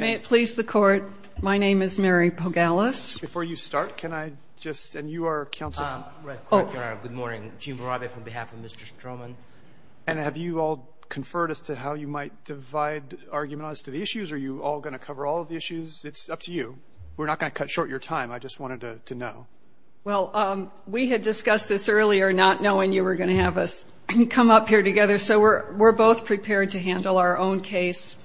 May it please the Court, my name is Mary Pogalis. Before you start, can I just, and you are counsel for- Right, good morning. Jim Varabeh on behalf of Mr. Stroman. And have you all conferred as to how you might divide argument on the issues? Are you all going to cover all of the issues? It's up to you. We're not going to cut short your time. I just wanted to know. Well, we had discussed this earlier, not knowing you were going to have us come up here together. So we're both prepared to handle our own case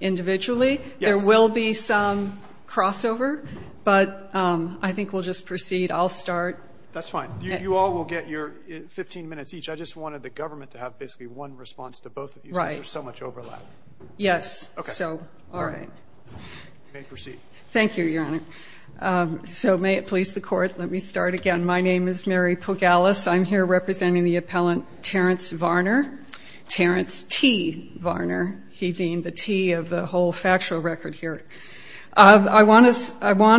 individually. Yes. There will be some crossover, but I think we'll just proceed. I'll start. That's fine. You all will get your 15 minutes each. I just wanted the government to have basically one response to both of you since there's so much overlap. Yes. Okay. So, all right. You may proceed. Thank you, Your Honor. So may it please the Court, let me start again. My name is Mary Pugalis. I'm here representing the appellant Terence Varner. Terence T. Varner. He being the T of the whole factual record here. I want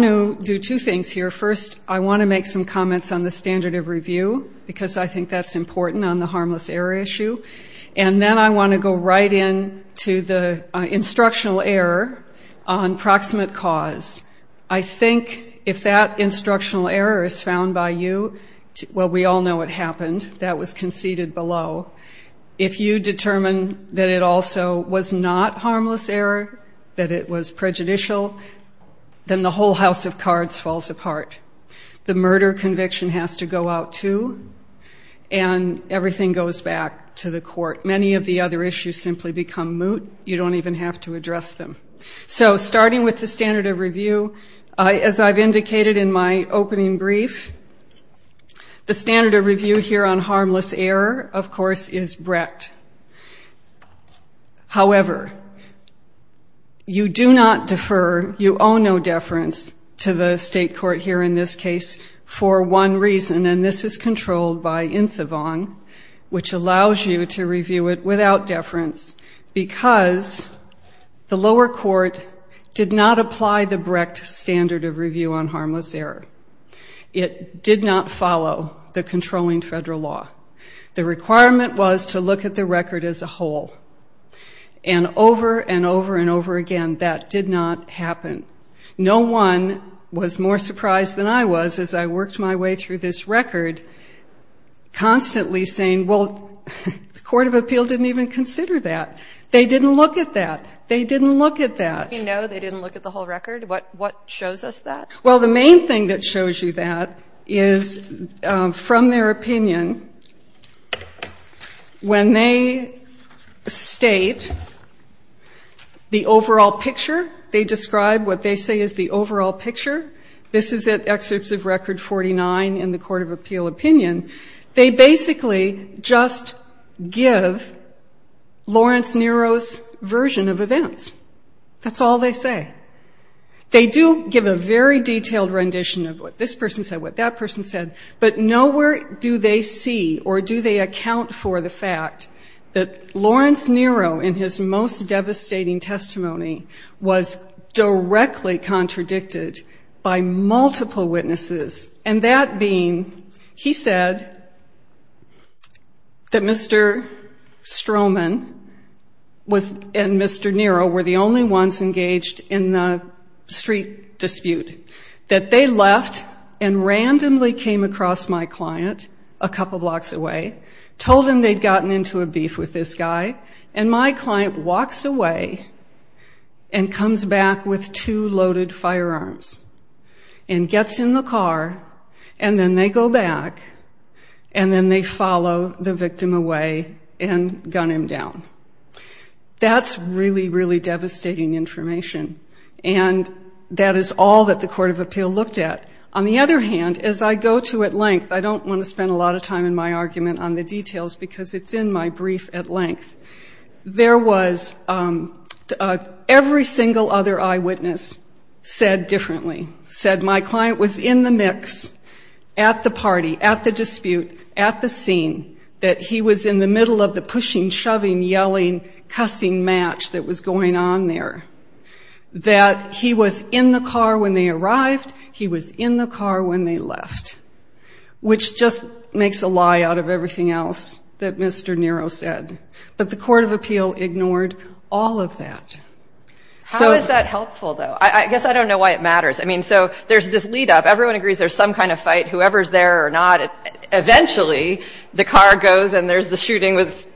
to do two things here. First, I want to make some comments on the standard of review because I think that's important on the harmless error issue. And then I want to go right in to the instructional error on proximate cause. I think if that instructional error is found by you, well, we all know what happened. That was conceded below. If you determine that it also was not harmless error, that it was prejudicial, then the whole house of cards falls apart. The murder conviction has to go out too, and everything goes back to the court. Many of the other issues simply become moot. You don't even have to address them. So starting with the standard of review, as I've indicated in my opening brief, the standard of review here on harmless error, of course, is Brett. However, you do not defer, you owe no deference to the state court here in this case for one reason, and this is controlled by INSAVONG, which allows you to review it without deference because the lower court did not apply the Brecht standard of review on harmless error. It did not follow the controlling federal law. The requirement was to look at the record as a whole. And over and over and over again, that did not happen. No one was more surprised than I was as I worked my way through this record, constantly saying, well, the court of appeal didn't even consider that. They didn't look at that. They didn't look at that. No, they didn't look at the whole record. What shows us that? Well, the main thing that shows you that is, from their opinion, when they state the overall picture, they describe what they say is the overall picture. This is at Excerpts of Record 49 in the Court of Appeal Opinion. They basically just give Lawrence Nero's version of events. That's all they say. They do give a very detailed rendition of what this person said, what that person said, but nowhere do they see or do they account for the fact that Lawrence Nero, in his most devastating testimony, was directly contradicted by multiple witnesses, and that being he said that Mr. Stroman and Mr. Nero were the only ones engaged in the street dispute, that they left and randomly came across my client a couple blocks away, told him they'd gotten into a beef with this guy, and my client walks away and comes back with two loaded firearms and gets in the car, and then they go back, and then they follow the victim away and gun him down. That's really, really devastating information, and that is all that the Court of Appeal looked at. On the other hand, as I go to at length, I don't want to spend a lot of time in my argument on the details because it's in my brief at length, there was every single other eyewitness said differently, said my client was in the mix, at the party, at the dispute, at the scene, that he was in the middle of the pushing, shoving, yelling, cussing match that was going on there. That he was in the car when they arrived, he was in the car when they left, which just makes a lie out of everything else that Mr. Nero said. But the Court of Appeal ignored all of that. How is that helpful, though? I guess I don't know why it matters. I mean, so there's this lead-up. Everyone agrees there's some kind of fight, whoever's there or not. Eventually, the car goes, and there's the shooting with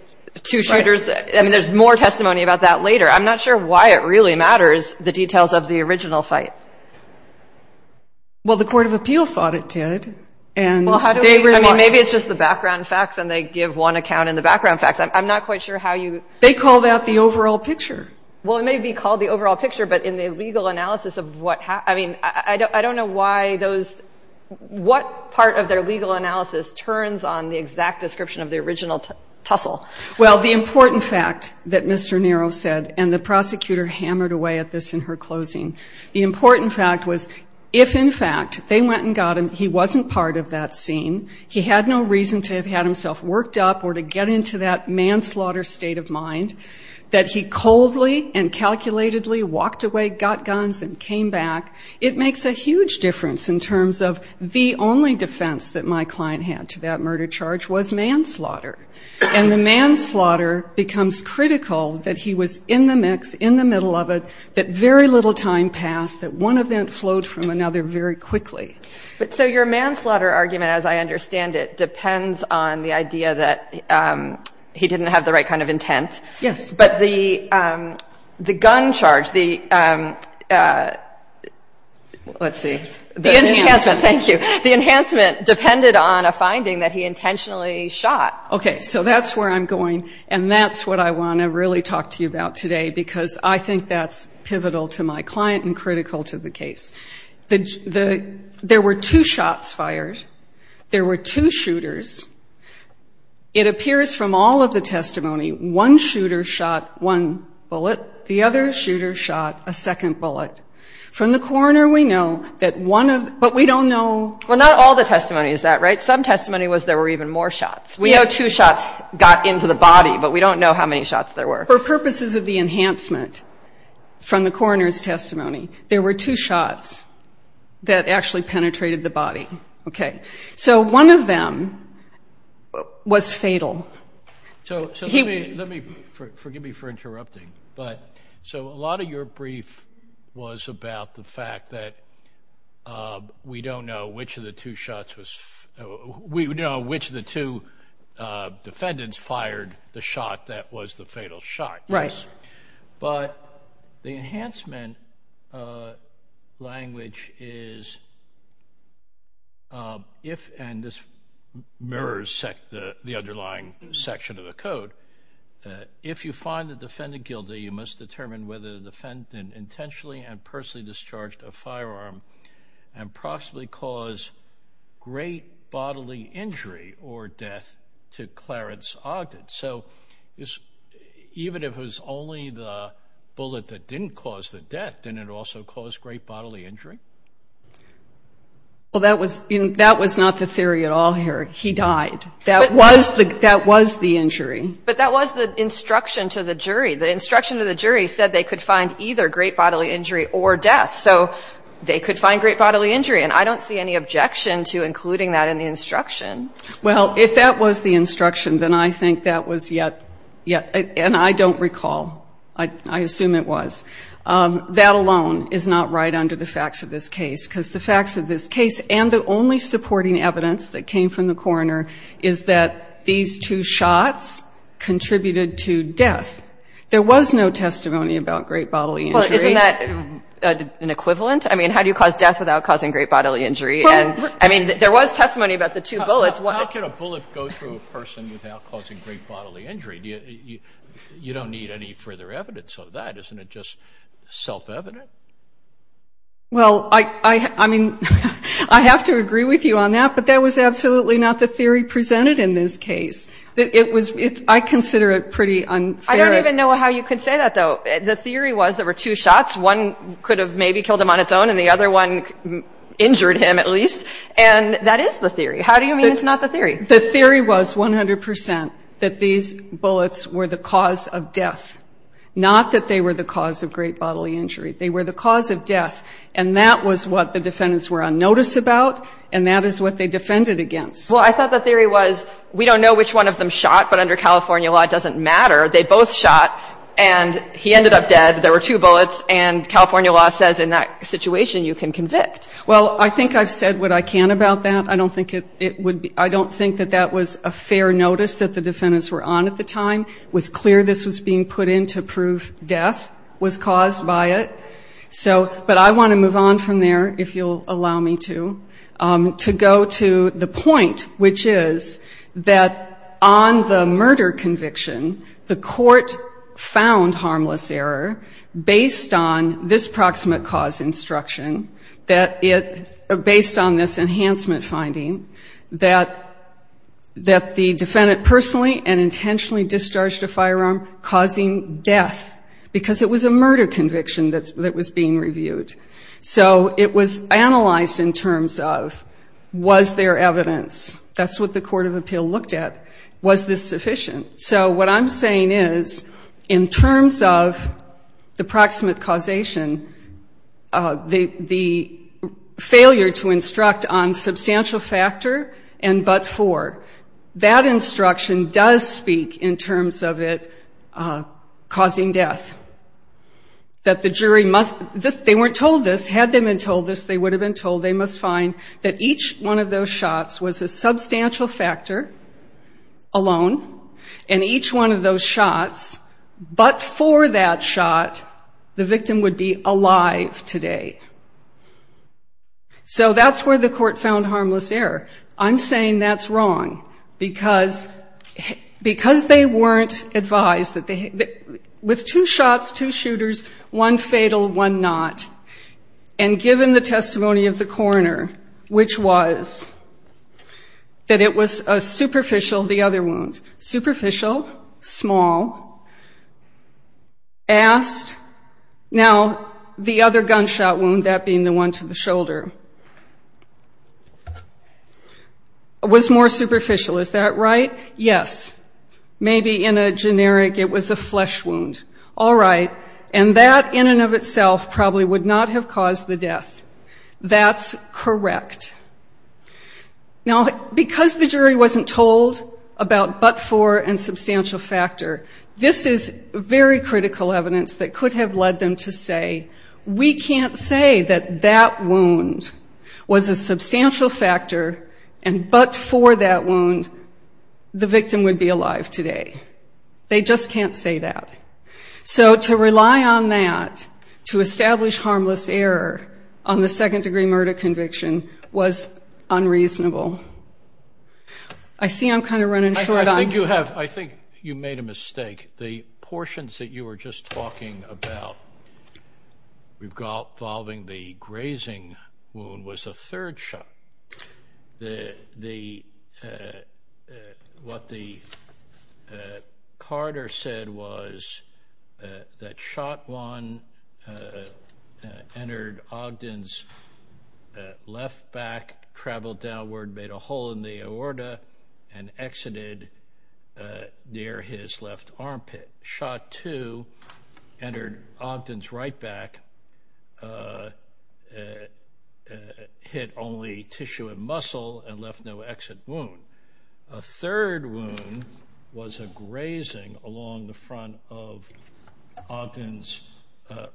two shooters. I mean, there's more testimony about that later. I'm not sure why it really matters, the details of the original fight. Well, the Court of Appeal thought it did. Well, how do we – I mean, maybe it's just the background facts, and they give one account in the background facts. I'm not quite sure how you – They called out the overall picture. Well, it may be called the overall picture, but in the legal analysis of what – I mean, I don't know why those – what part of their legal analysis turns on the exact description of the original tussle. Well, the important fact that Mr. Nero said, and the prosecutor hammered away at this in her closing, the important fact was if, in fact, they went and got him, he wasn't part of that scene, he had no reason to have had himself worked up or to get into that manslaughter state of mind, that he coldly and calculatedly walked away, got guns, and came back, it makes a huge difference in terms of the only defense that my client had to that murder charge was manslaughter. And the manslaughter becomes critical that he was in the mix, in the middle of it, that very little time passed, that one event flowed from another very quickly. But so your manslaughter argument, as I understand it, depends on the idea that he didn't have the right kind of intent. Yes. But the gun charge, the – let's see. The enhancement. The enhancement, thank you. The enhancement depended on a finding that he intentionally shot. Okay. So that's where I'm going, and that's what I want to really talk to you about today because I think that's pivotal to my client and critical to the case. There were two shots fired. There were two shooters. It appears from all of the testimony one shooter shot one bullet, the other shooter shot a second bullet. From the coroner we know that one of the – but we don't know. Well, not all the testimony is that right. Some testimony was there were even more shots. We know two shots got into the body, but we don't know how many shots there were. For purposes of the enhancement from the coroner's testimony, there were two shots that actually penetrated the body. Okay. So one of them was fatal. So let me – forgive me for interrupting, but so a lot of your brief was about the fact that we don't know which of the two shots was – we don't know which of the two defendants fired the shot that was the fatal shot. Right. But the enhancement language is if – and this mirrors the underlying section of the code. If you find the defendant guilty, you must determine whether the defendant intentionally and personally discharged a firearm and possibly caused great bodily injury or death to Clarence Ogden. So even if it was only the bullet that didn't cause the death, didn't it also cause great bodily injury? Well, that was not the theory at all, Harry. He died. But that was the instruction to the jury. The instruction to the jury said they could find either great bodily injury or death. So they could find great bodily injury, and I don't see any objection to including that in the instruction. Well, if that was the instruction, then I think that was yet – and I don't recall. I assume it was. That alone is not right under the facts of this case because the facts of this case and the only supporting evidence that came from the coroner is that these two shots contributed to death. There was no testimony about great bodily injury. Well, isn't that an equivalent? I mean, how do you cause death without causing great bodily injury? I mean, there was testimony about the two bullets. How could a bullet go through a person without causing great bodily injury? You don't need any further evidence of that. Isn't it just self-evident? Well, I mean, I have to agree with you on that, but that was absolutely not the theory presented in this case. It was – I consider it pretty unfair. I don't even know how you could say that, though. The theory was there were two shots. One could have maybe killed him on its own, and the other one injured him at least. And that is the theory. How do you mean it's not the theory? The theory was 100% that these bullets were the cause of death, not that they were the cause of great bodily injury. They were the cause of death, and that was what the defendants were unnoticed about, and that is what they defended against. Well, I thought the theory was we don't know which one of them shot, but under California law it doesn't matter. They both shot, and he ended up dead. There were two bullets. And California law says in that situation you can convict. Well, I think I've said what I can about that. I don't think it would be – I don't think that that was a fair notice that the defendants were on at the time. It was clear this was being put in to prove death was caused by it. So – but I want to move on from there, if you'll allow me to. To go to the point, which is that on the murder conviction, the court found harmless error based on this proximate cause instruction, that it – based on this enhancement finding, that the defendant personally and intentionally discharged a firearm causing death, because it was a murder conviction that was being reviewed. So it was analyzed in terms of was there evidence. That's what the court of appeal looked at. Was this sufficient? So what I'm saying is in terms of the proximate causation, the failure to instruct on substantial factor and but for, that instruction does speak in terms of it causing death. That the jury must – they weren't told this. Had they been told this, they would have been told. They must find that each one of those shots was a substantial factor alone, and each one of those shots, but for that shot, the victim would be alive today. So that's where the court found harmless error. I'm saying that's wrong, because they weren't advised that they – with two shots, two shooters, one fatal, one not. And given the testimony of the coroner, which was that it was a superficial, the other wound, superficial, small, asked, now the other gunshot wound, that being the one to the shoulder, was more superficial. Is that right? Yes. Maybe in a generic, it was a flesh wound. All right. And that in and of itself probably would not have caused the death. That's correct. Now, because the jury wasn't told about but for and substantial factor, this is very critical evidence that could have led them to say, we can't say that that wound was a substantial factor, and but for that wound, the victim would be alive today. They just can't say that. So to rely on that to establish harmless error on the second-degree murder conviction was unreasonable. I see I'm kind of running short on – I think you have – I think you made a mistake. The portions that you were just talking about involving the grazing wound was a third shot. What Carter said was that shot one entered Ogden's left back, traveled downward, made a hole in the aorta, and exited near his left armpit. Shot two entered Ogden's right back, hit only tissue and muscle, and left no exit wound. A third wound was a grazing along the front of Ogden's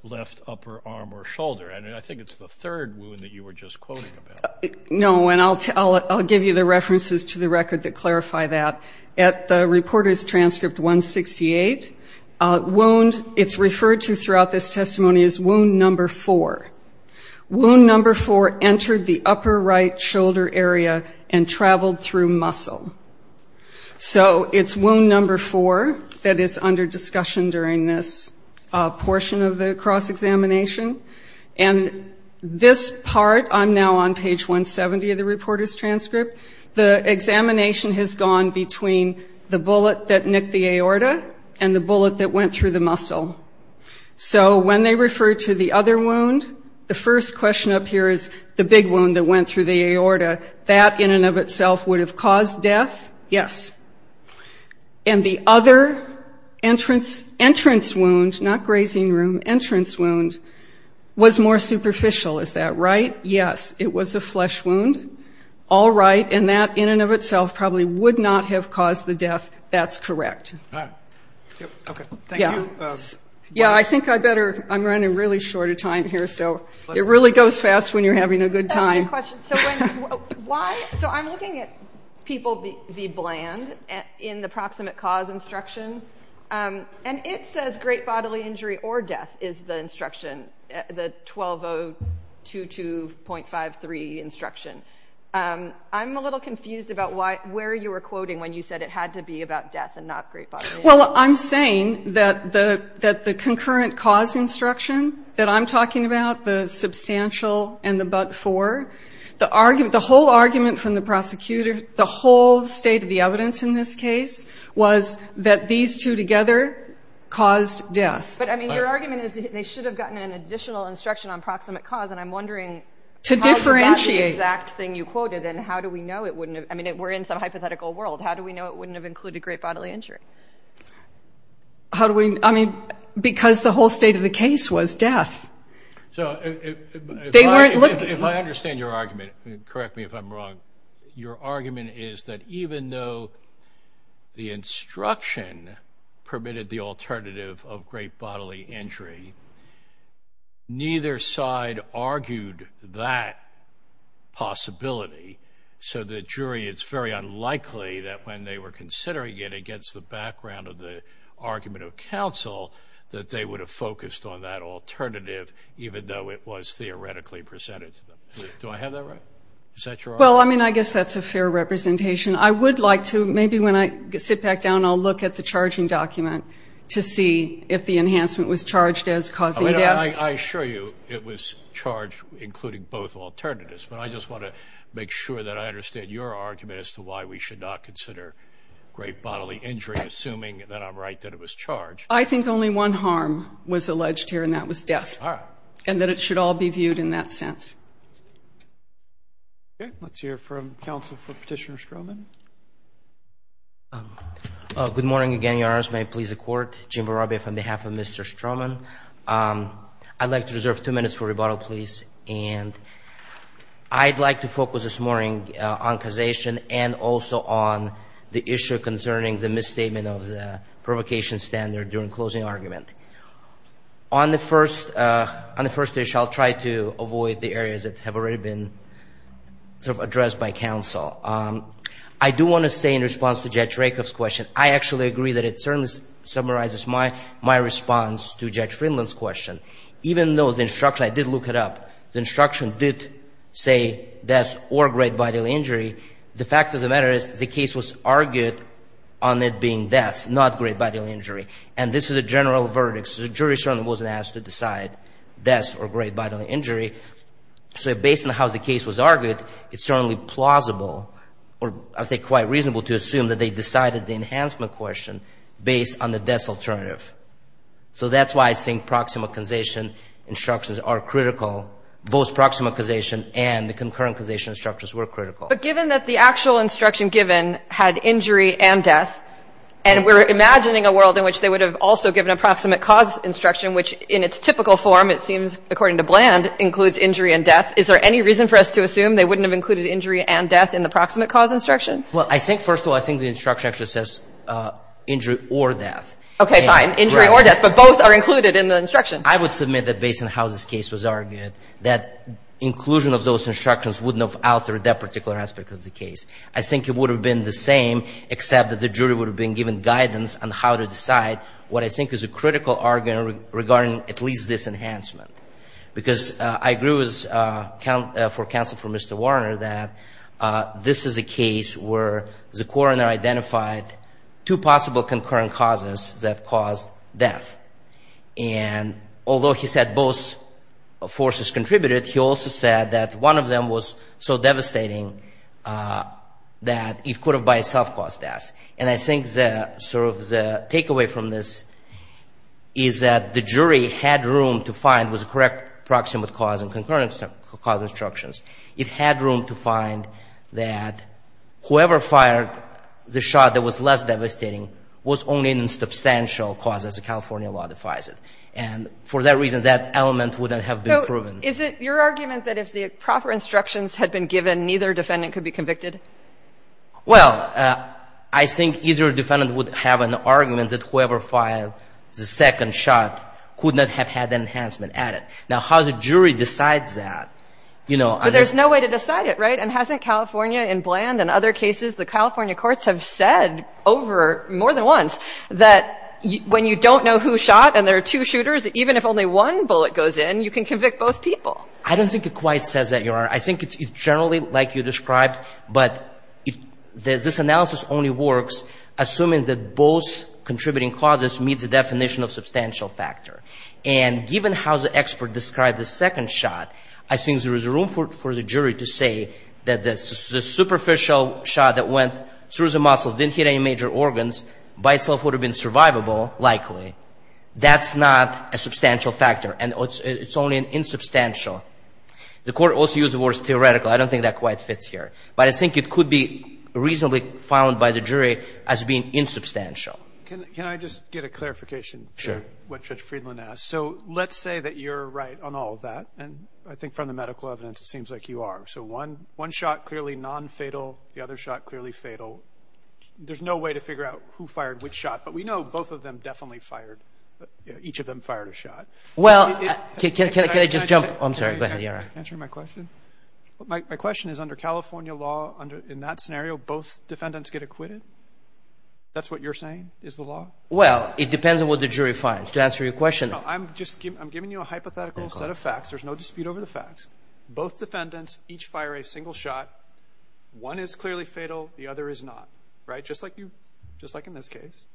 left upper arm or shoulder. And I think it's the third wound that you were just quoting about. No, and I'll give you the references to the record that clarify that. At the reporter's transcript 168, wound – it's referred to throughout this testimony as wound number four. Wound number four entered the upper right shoulder area and traveled through muscle. So it's wound number four that is under discussion during this portion of the cross-examination. And this part, I'm now on page 170 of the reporter's transcript. The examination has gone between the bullet that nicked the aorta and the bullet that went through the muscle. So when they refer to the other wound, the first question up here is the big wound that went through the aorta. That in and of itself would have caused death, yes. And the other entrance wound, not grazing wound, entrance wound, was more superficial. Is that right? Yes, it was a flesh wound. All right, and that in and of itself probably would not have caused the death. That's correct. All right. Okay. Thank you. Yeah, I think I better – I'm running really short of time here, so it really goes fast when you're having a good time. I have a question. So when – why – so I'm looking at people v. Bland in the proximate cause instruction, and it says great bodily injury or death is the instruction, the 12022.53 instruction. I'm a little confused about where you were quoting when you said it had to be about death and not great bodily injury. Well, I'm saying that the concurrent cause instruction that I'm talking about, the substantial and the but-for, the whole argument from the prosecutor, the whole state of the evidence in this case, was that these two together caused death. But, I mean, your argument is they should have gotten an additional instruction on proximate cause, and I'm wondering – To differentiate. – how about the exact thing you quoted, and how do we know it wouldn't have – I mean, we're in some hypothetical world. How do we know it wouldn't have included great bodily injury? How do we – I mean, because the whole state of the case was death. So if I understand your argument – correct me if I'm wrong – your argument is that even though the instruction permitted the alternative of great bodily injury, neither side argued that possibility. So the jury, it's very unlikely that when they were considering it against the background of the argument of counsel, that they would have focused on that alternative even though it was theoretically presented to them. Do I have that right? Is that your argument? Well, I mean, I guess that's a fair representation. I would like to – maybe when I sit back down, I'll look at the charging document to see if the enhancement was charged as causing death. I assure you it was charged including both alternatives, but I just want to make sure that I understand your argument as to why we should not consider great bodily injury, assuming that I'm right that it was charged. I think only one harm was alleged here, and that was death. All right. And that it should all be viewed in that sense. Okay. Let's hear from counsel for Petitioner Stroman. Good morning again, Your Honors. May it please the Court. Jim Barabea on behalf of Mr. Stroman. I'd like to reserve two minutes for rebuttal, please. And I'd like to focus this morning on causation and also on the issue concerning the misstatement of the provocation standard during closing argument. On the first issue, I'll try to avoid the areas that have already been addressed by counsel. I do want to say in response to Judge Rakoff's question, I actually agree that it certainly summarizes my response to Judge Friendland's question. Even though the instruction – I did look it up – the instruction did say death or great bodily injury, the fact of the matter is the case was argued on it being death, not great bodily injury. And this is a general verdict. So the jury certainly wasn't asked to decide death or great bodily injury. So based on how the case was argued, it's certainly plausible, or I would say quite reasonable to assume that they decided the enhancement question based on the death alternative. So that's why I think proximal causation instructions are critical. Both proximal causation and the concurrent causation instructions were critical. But given that the actual instruction given had injury and death, and we're imagining a world in which they would have also given a proximate cause instruction, which in its typical form, it seems, according to Bland, includes injury and death, is there any reason for us to assume they wouldn't have included injury and death in the proximate cause instruction? Well, I think first of all, I think the instruction actually says injury or death. Okay, fine. Injury or death, but both are included in the instruction. I would submit that based on how this case was argued, that inclusion of those instructions wouldn't have altered that particular aspect of the case. I think it would have been the same, except that the jury would have been given guidance on how to decide what I think is a critical argument regarding at least this enhancement. Because I agree with counsel for Mr. Warner that this is a case where the coroner identified two possible concurrent causes that caused death. And although he said both forces contributed, he also said that one of them was so devastating that it could have by itself caused death. And I think sort of the takeaway from this is that the jury had room to find was a correct proximate cause and concurrent cause instructions. It had room to find that whoever fired the shot that was less devastating was only in substantial cause as the California law defies it. And for that reason, that element would not have been proven. So is it your argument that if the proper instructions had been given, neither defendant could be convicted? Well, I think either defendant would have an argument that whoever fired the second shot could not have had enhancement added. Now, how the jury decides that, you know. But there's no way to decide it, right? And hasn't California in Bland and other cases, the California courts have said over more than once that when you don't know who shot and there are two shooters, even if only one bullet goes in, you can convict both people. I don't think it quite says that, Your Honor. I think it's generally like you described. But this analysis only works assuming that both contributing causes meet the definition of substantial factor. And given how the expert described the second shot, I think there is room for the jury to say that the superficial shot that went through the muscles, didn't hit any major organs, by itself would have been survivable, likely. That's not a substantial factor. And it's only an insubstantial. The court also used the words theoretical. I don't think that quite fits here. But I think it could be reasonably found by the jury as being insubstantial. Can I just get a clarification? Sure. What Judge Friedland asked. So let's say that you're right on all of that. And I think from the medical evidence, it seems like you are. So one shot clearly nonfatal. The other shot clearly fatal. There's no way to figure out who fired which shot. But we know both of them definitely fired. Each of them fired a shot. Well, can I just jump? I'm sorry. Go ahead, Your Honor. Answering my question? My question is under California law, in that scenario, both defendants get acquitted? That's what you're saying is the law? Well, it depends on what the jury finds. To answer your question. I'm giving you a hypothetical set of facts. There's no dispute over the facts. Both defendants each fire a single shot. One is clearly fatal. The other is not. Right? Just like in this case.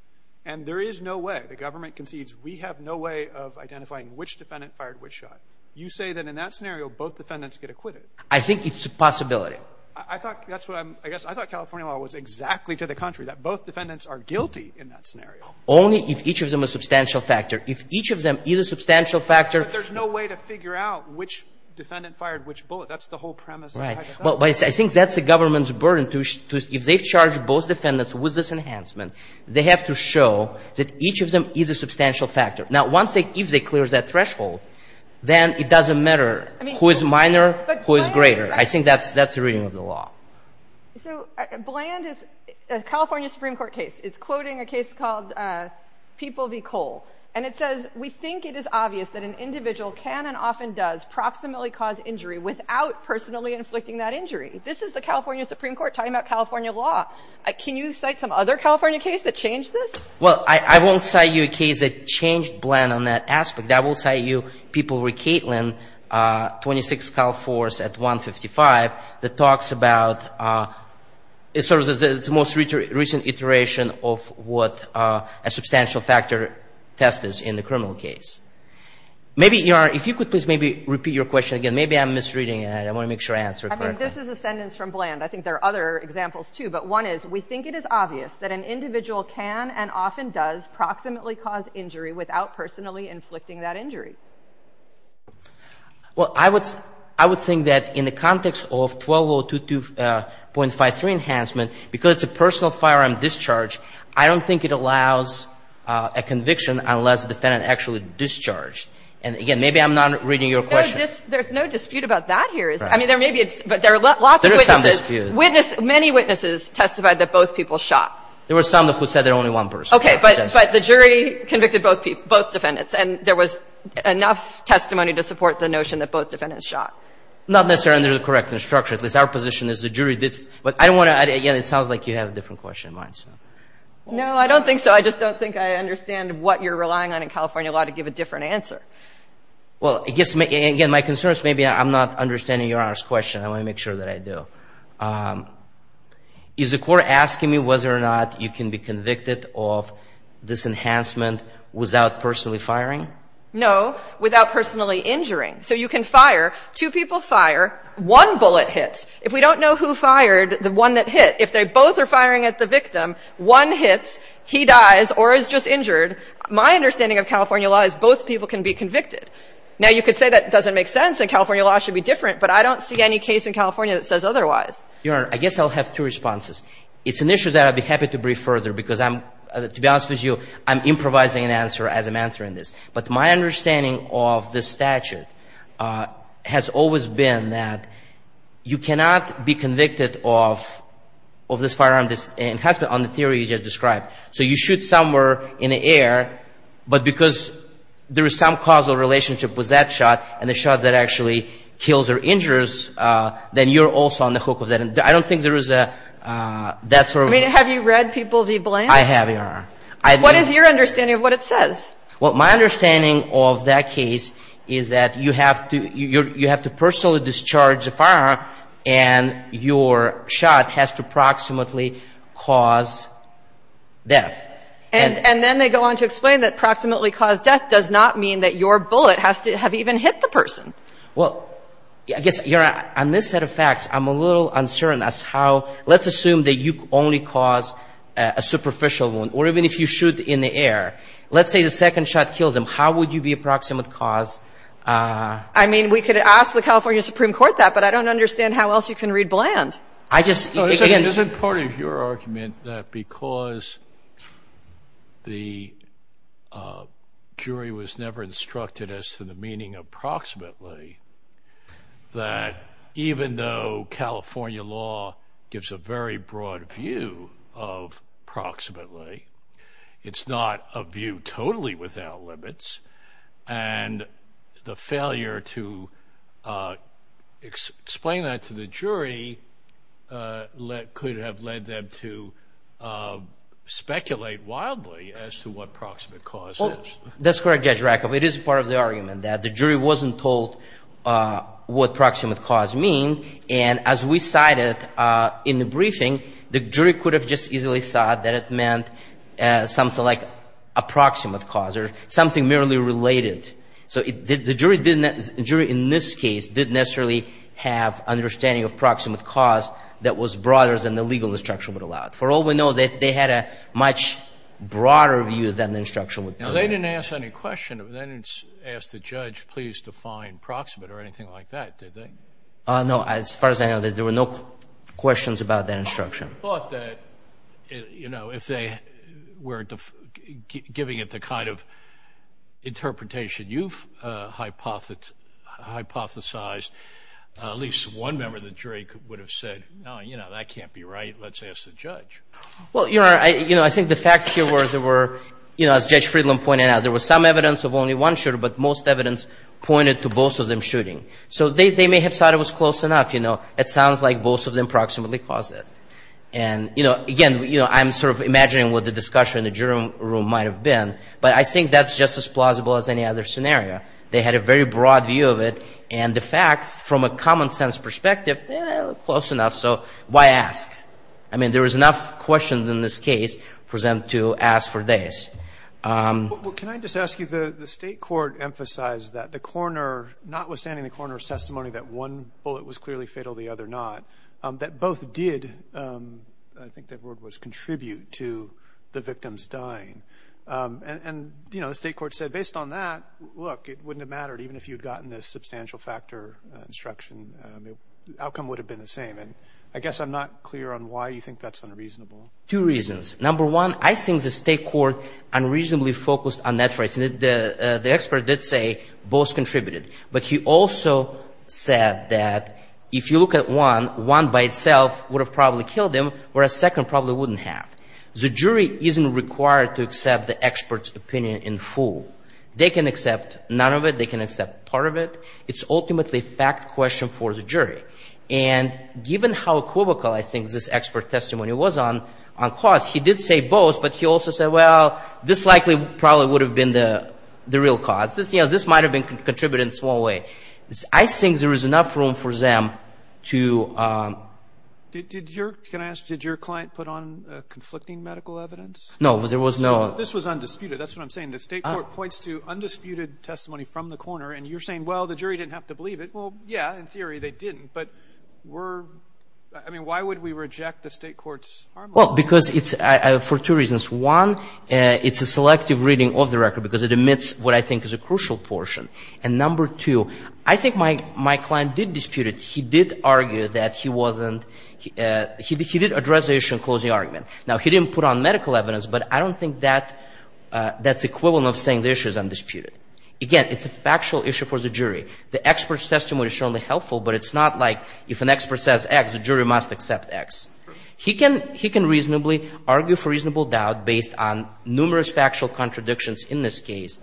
And there is no way the government concedes we have no way of identifying which defendant fired which shot. You say that in that scenario, both defendants get acquitted. I think it's a possibility. I thought California law was exactly to the contrary, that both defendants are guilty in that scenario. Only if each of them is a substantial factor. If each of them is a substantial factor. But there's no way to figure out which defendant fired which bullet. That's the whole premise of the hypothetical. I think that's the government's burden. If they've charged both defendants with this enhancement, they have to show that each of them is a substantial factor. Now, if they clear that threshold, then it doesn't matter who is minor, who is greater. I think that's the reading of the law. So, Bland is a California Supreme Court case. It's quoting a case called People v. Cole. And it says, we think it is obvious that an individual can and often does proximately cause injury without personally inflicting that injury. This is the California Supreme Court talking about California law. Can you cite some other California case that changed this? Well, I won't cite you a case that changed Bland on that aspect. I will cite you People v. Katelyn, 26 Cal Force at 155, that talks about sort of its most recent iteration of what a substantial factor test is in the criminal case. Maybe, if you could please maybe repeat your question again. Maybe I'm misreading it. I want to make sure I answer it correctly. I mean, this is a sentence from Bland. I think there are other examples, too. But one is, we think it is obvious that an individual can and often does proximately cause injury without personally inflicting that injury. Well, I would think that in the context of 12022.53 enhancement, because it's a personal firearm discharge, I don't think it allows a conviction unless the defendant actually discharged. And, again, maybe I'm not reading your question. There's no dispute about that here. I mean, there may be, but there are lots of witnesses. There is some dispute. Many witnesses testified that both people shot. There were some who said there were only one person. Okay, but the jury convicted both defendants, and there was enough testimony to support the notion that both defendants shot. Not necessarily under the correctness structure. At least our position is the jury did. But I don't want to, again, it sounds like you have a different question in mind. No, I don't think so. I just don't think I understand what you're relying on in California law to give a different answer. Well, I guess, again, my concern is maybe I'm not understanding your question. I want to make sure that I do. Is the court asking me whether or not you can be convicted of this enhancement without personally firing? No, without personally injuring. So you can fire. Two people fire. One bullet hits. If we don't know who fired the one that hit, if they both are firing at the victim, one hits, he dies, or is just injured. My understanding of California law is both people can be convicted. Now, you could say that doesn't make sense and California law should be different, but I don't see any case in California that says otherwise. Your Honor, I guess I'll have two responses. It's an issue that I'd be happy to brief further because I'm, to be honest with you, I'm improvising an answer as I'm answering this. But my understanding of this statute has always been that you cannot be convicted of this firearm enhancement on the theory you just described. So you shoot somewhere in the air, but because there is some causal relationship with that shot and the shot that actually kills or injures, then you're also on the hook of that. I don't think there is a, that sort of. I mean, have you read people v. Blaine? I have, Your Honor. What is your understanding of what it says? Well, my understanding of that case is that you have to personally discharge the firearm and your shot has to approximately cause death. And then they go on to explain that approximately cause death does not mean that your bullet has to have even hit the person. Well, I guess, Your Honor, on this set of facts, I'm a little uncertain as how, let's assume that you only cause a superficial wound, or even if you shoot in the air. Let's say the second shot kills them. How would you be approximate cause? I mean, we could ask the California Supreme Court that, but I don't understand how else you can read Bland. I just. Isn't part of your argument that because the jury was never instructed as to the meaning of approximately, that even though California law gives a very broad view of approximately, it's not a view totally without limits. And the failure to explain that to the jury could have led them to speculate wildly as to what approximate cause is. That's correct, Judge Rakoff. It is part of the argument that the jury wasn't told what approximate cause means. And as we cited in the briefing, the jury could have just easily thought that it meant something like approximate cause or something merely related. So the jury in this case didn't necessarily have understanding of approximate cause that was broader than the legal instruction would allow. For all we know, they had a much broader view than the instruction would allow. They didn't ask any question. They didn't ask the judge, please define approximate or anything like that, did they? No. As far as I know, there were no questions about the instruction. I thought that if they were giving it the kind of interpretation you've hypothesized, at least one member of the jury would have said, no, that can't be right. Let's ask the judge. Well, I think the facts here were, as Judge Friedland pointed out, there was some evidence of only one shooter, but most evidence pointed to both of them shooting. So they may have thought it was close enough. It sounds like both of them approximately caused it. And, again, I'm sort of imagining what the discussion in the jury room might have been, but I think that's just as plausible as any other scenario. They had a very broad view of it, and the facts, from a common-sense perspective, close enough. So why ask? I mean, there was enough questions in this case for them to ask for this. Well, can I just ask you, the state court emphasized that the coroner, notwithstanding the coroner's testimony that one bullet was clearly fatal, the other not, that both did, I think that word was contribute, to the victims dying. And, you know, the state court said, based on that, look, it wouldn't have mattered, even if you had gotten the substantial factor instruction, the outcome would have been the same. And I guess I'm not clear on why you think that's unreasonable. Two reasons. Number one, I think the state court unreasonably focused on net rights. The expert did say both contributed. But he also said that if you look at one, one by itself would have probably killed him, whereas a second probably wouldn't have. The jury isn't required to accept the expert's opinion in full. They can accept none of it. They can accept part of it. It's ultimately a fact question for the jury. And given how equivocal I think this expert testimony was on cause, he did say both, but he also said, well, this likely probably would have been the real cause. You know, this might have been contributed in a small way. I think there is enough room for them to... Can I ask, did your client put on conflicting medical evidence? No, there was no... This was undisputed. That's what I'm saying. The state court points to undisputed testimony from the coroner, and you're saying, well, the jury didn't have to believe it. Well, yeah, in theory they didn't, but we're... I mean, why would we reject the state court's... Well, because it's... For two reasons. One, it's a selective reading of the record because it omits what I think is a crucial portion. And number two, I think my client did dispute it. He did argue that he wasn't... He did address the issue in closing argument. Now, he didn't put on medical evidence, but I don't think that's equivalent of saying the issue is undisputed. Again, it's a factual issue for the jury. The expert's testimony is certainly helpful, but it's not like if an expert says X, the jury must accept X. He can reasonably argue for reasonable doubt based on numerous factual contradictions in this case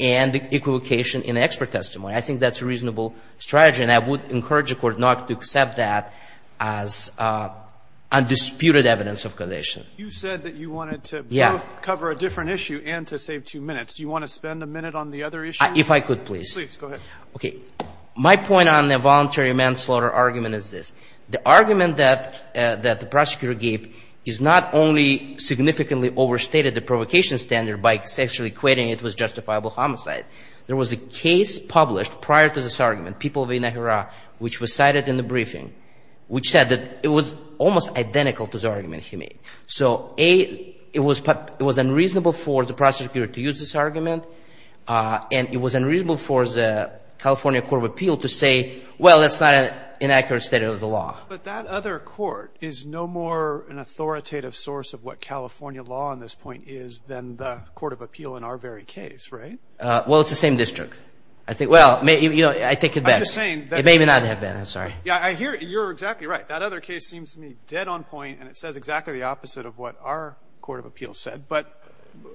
and equivocation in expert testimony. I think that's a reasonable strategy, and I would encourage the Court not to accept that as undisputed evidence of condition. You said that you wanted to both cover a different issue and to save two minutes. Do you want to spend a minute on the other issue? If I could, please. Please, go ahead. Okay. My point on the voluntary manslaughter argument is this. The argument that the prosecutor gave is not only significantly overstated the provocation standard by sexually equating it with justifiable homicide. There was a case published prior to this argument, People v. Nahara, which was cited in the briefing, which said that it was almost identical to the argument he made. So, A, it was unreasonable for the prosecutor to use this argument, and it was unreasonable for the California Court of Appeal to say, well, that's not an inaccurate study of the law. But that other court is no more an authoritative source of what California law on this point is than the Court of Appeal in our very case, right? Well, it's the same district. I think – well, I take it back. I'm just saying – It may or may not have been. I'm sorry. Yeah, I hear – you're exactly right. That other case seems to me dead on point, and it says exactly the opposite of what our Court of Appeal said. But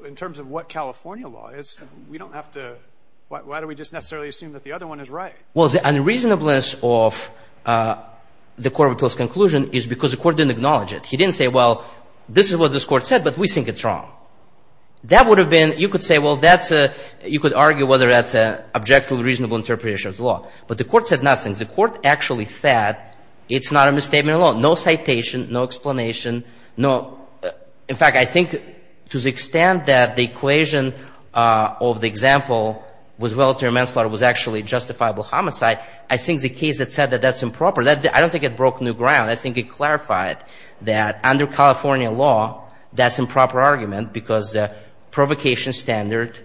in terms of what California law is, we don't have to – why do we just necessarily assume that the other one is right? Well, the unreasonableness of the Court of Appeal's conclusion is because the court didn't acknowledge it. He didn't say, well, this is what this court said, but we think it's wrong. That would have been – you could say, well, that's a – you could argue whether that's an objectively reasonable interpretation of the law. But the court said nothing. The court actually said it's not a misstatement of the law. No citation. No explanation. No – in fact, I think to the extent that the equation of the example with voluntary manslaughter was actually justifiable homicide, I think the case that said that that's improper, I don't think it broke new ground. I think it clarified that under California law, that's improper argument because the provocation standard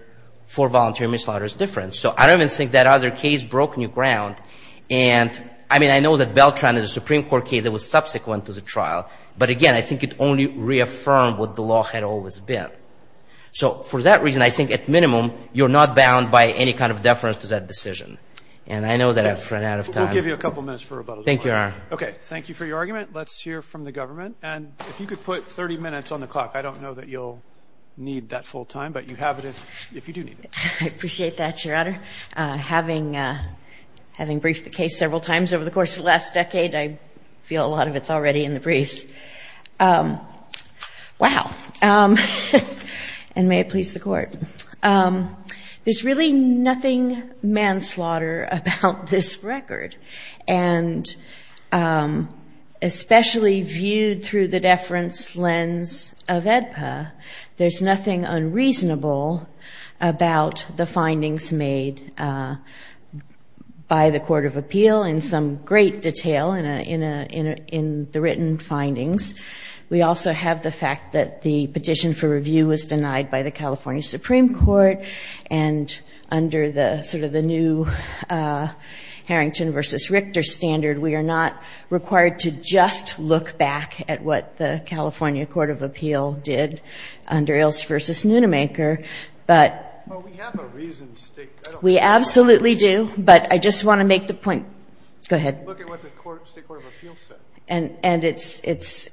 for voluntary manslaughter is different. So I don't even think that other case broke new ground. And, I mean, I know that Beltran is a Supreme Court case that was subsequent to the trial. But, again, I think it only reaffirmed what the law had always been. So for that reason, I think, at minimum, you're not bound by any kind of deference to that decision. And I know that I've run out of time. We'll give you a couple minutes for rebuttal. Thank you, Your Honor. Okay. Thank you for your argument. Let's hear from the government. And if you could put 30 minutes on the clock. I don't know that you'll need that full time, but you have it if you do need it. I appreciate that, Your Honor. Having briefed the case several times over the course of the last decade, I feel a lot of it's already in the briefs. Wow. And may it please the Court. There's really nothing manslaughter about this record. And especially viewed through the deference lens of AEDPA, there's nothing unreasonable about the findings made by the Court of Appeal in some great detail in the written findings. We also have the fact that the petition for review was denied by the California Supreme Court. And under sort of the new Harrington v. Richter standard, we are not required to just look back at what the California Court of Appeal did under Ailes v. Nunemaker. But... Well, we have a reason to stick... We absolutely do. But I just want to make the point... Go ahead. Look at what the state Court of Appeal said. And it's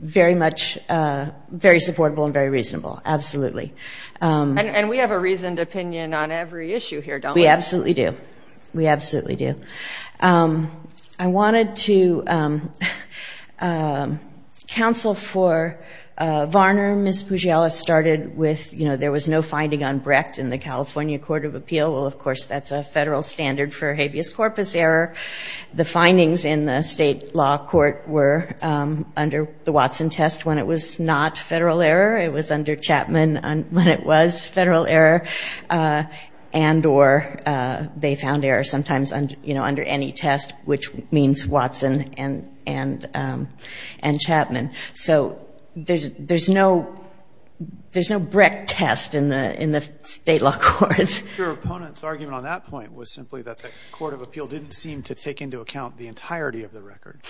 very much very supportable and very reasonable. Absolutely. And we have a reasoned opinion on every issue here, don't we? We absolutely do. We absolutely do. I wanted to counsel for Varner. Ms. Pugiella started with, you know, there was no finding on Brecht in the California Court of Appeal. Well, of course, that's a federal standard for habeas corpus error. The findings in the state law court were under the Watson test when it was not federal error. It was under Chapman when it was federal error. And or they found error sometimes, you know, under any test, which means Watson and Chapman. So there's no Brecht test in the state law courts. Your opponent's argument on that point was simply that the Court of Appeal didn't seem to take into account the entirety of the record.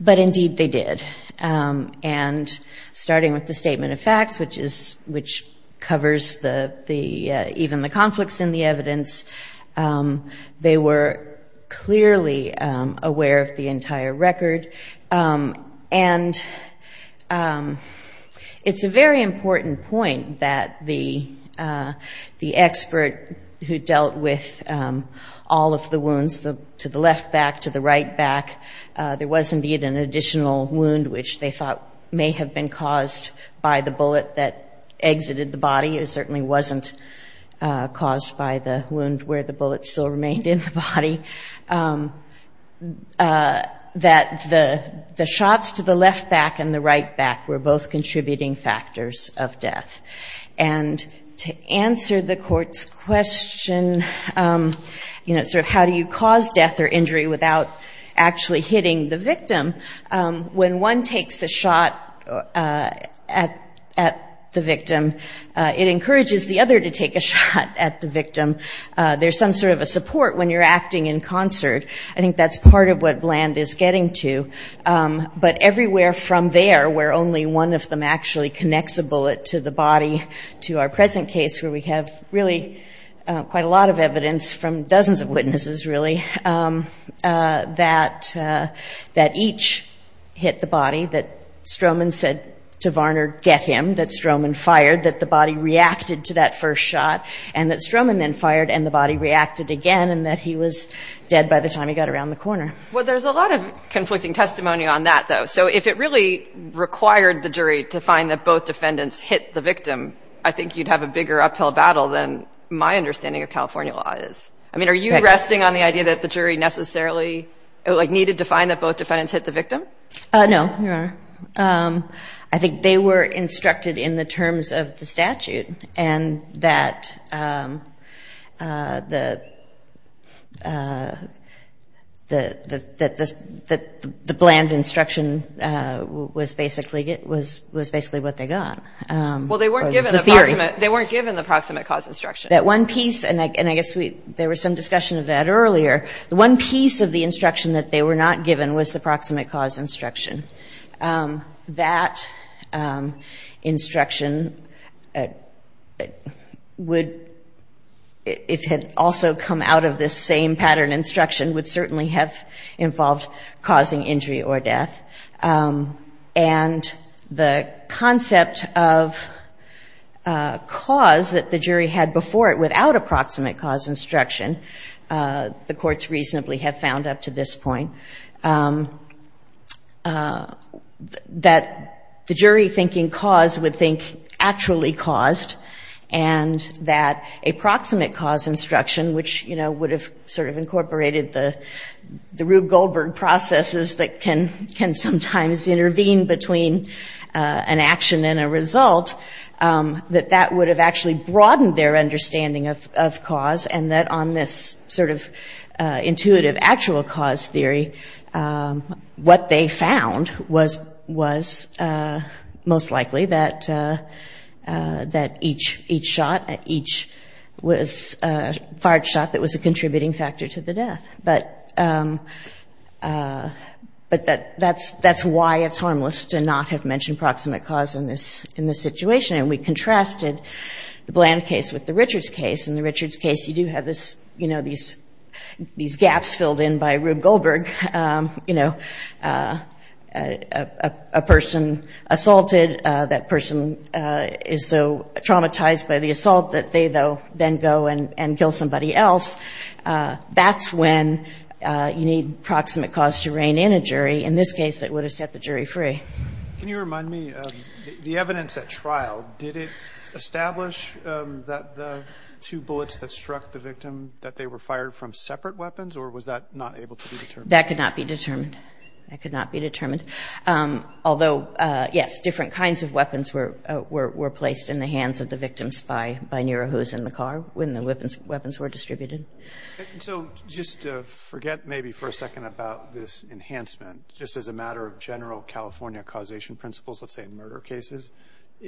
But, indeed, they did. And starting with the statement of facts, which covers even the conflicts in the evidence, they were clearly aware of the entire record. And it's a very important point that the expert who dealt with all of the wounds, to the left back, to the right back, there was, indeed, an additional wound which they thought may have been caused by the bullet that exited the body. It certainly wasn't caused by the wound where the bullet still remained in the body. That the shots to the left back and the right back were both contributing factors of death. And to answer the court's question, you know, sort of how do you cause death or injury without actually hitting the victim, when one takes a shot at the victim, it encourages the other to take a shot at the victim. There's some sort of a support when you're acting in concert. I think that's part of what Bland is getting to. But everywhere from there, where only one of them actually connects a bullet to the body, to our present case, where we have really quite a lot of evidence from dozens of witnesses, really, that each hit the body. That Stroman said to Varner, get him. That Stroman fired. That the body reacted to that first shot. And that Stroman then fired and the body reacted again. And that he was dead by the time he got around the corner. Well, there's a lot of conflicting testimony on that, though. So if it really required the jury to find that both defendants hit the victim, I think you'd have a bigger uphill battle than my argument that the statute and that the Bland instruction was basically what they got. Well, they weren't given the proximate cause instruction. That one piece, and I guess there was some discussion of that earlier, the one piece of the instruction that they were not given was the proximate cause instruction. It had also come out of this same pattern. Instruction would certainly have involved causing injury or death. And the concept of cause that the jury had before it without approximate cause instruction, the courts reasonably have found up to this point, that the jury thinking cause would think actually caused. And that a proximate cause instruction, which would have sort of incorporated the Rube Goldberg processes that can sometimes intervene between an action and a result, that that would have actually broadened their understanding of cause. And that on this sort of intuitive actual cause theory, what they found was most likely that each shot, each fired shot that was a contributing factor to the death. But that's why it's harmless to not have mentioned proximate cause in this situation. And we contrasted the Bland case with the Richards case. In the Richards case, you do have this, you know, these gaps filled in by Rube Goldberg. You know, a person assaulted, that person is so traumatized by the assault that they then go and kill somebody else. That's when you need proximate cause to rein in a jury. In this case, it would have set the jury free. Can you remind me, the evidence at trial, did it establish that the two bullets that struck the victim, that they were fired from separate weapons, or was that not able to be determined? That could not be determined. That could not be determined. Although, yes, different kinds of weapons were placed in the hands of the victims by Nira, who was in the car when the weapons were distributed. So just to forget maybe for a second about this enhancement, just as a matter of general California causation principles, let's say in murder cases,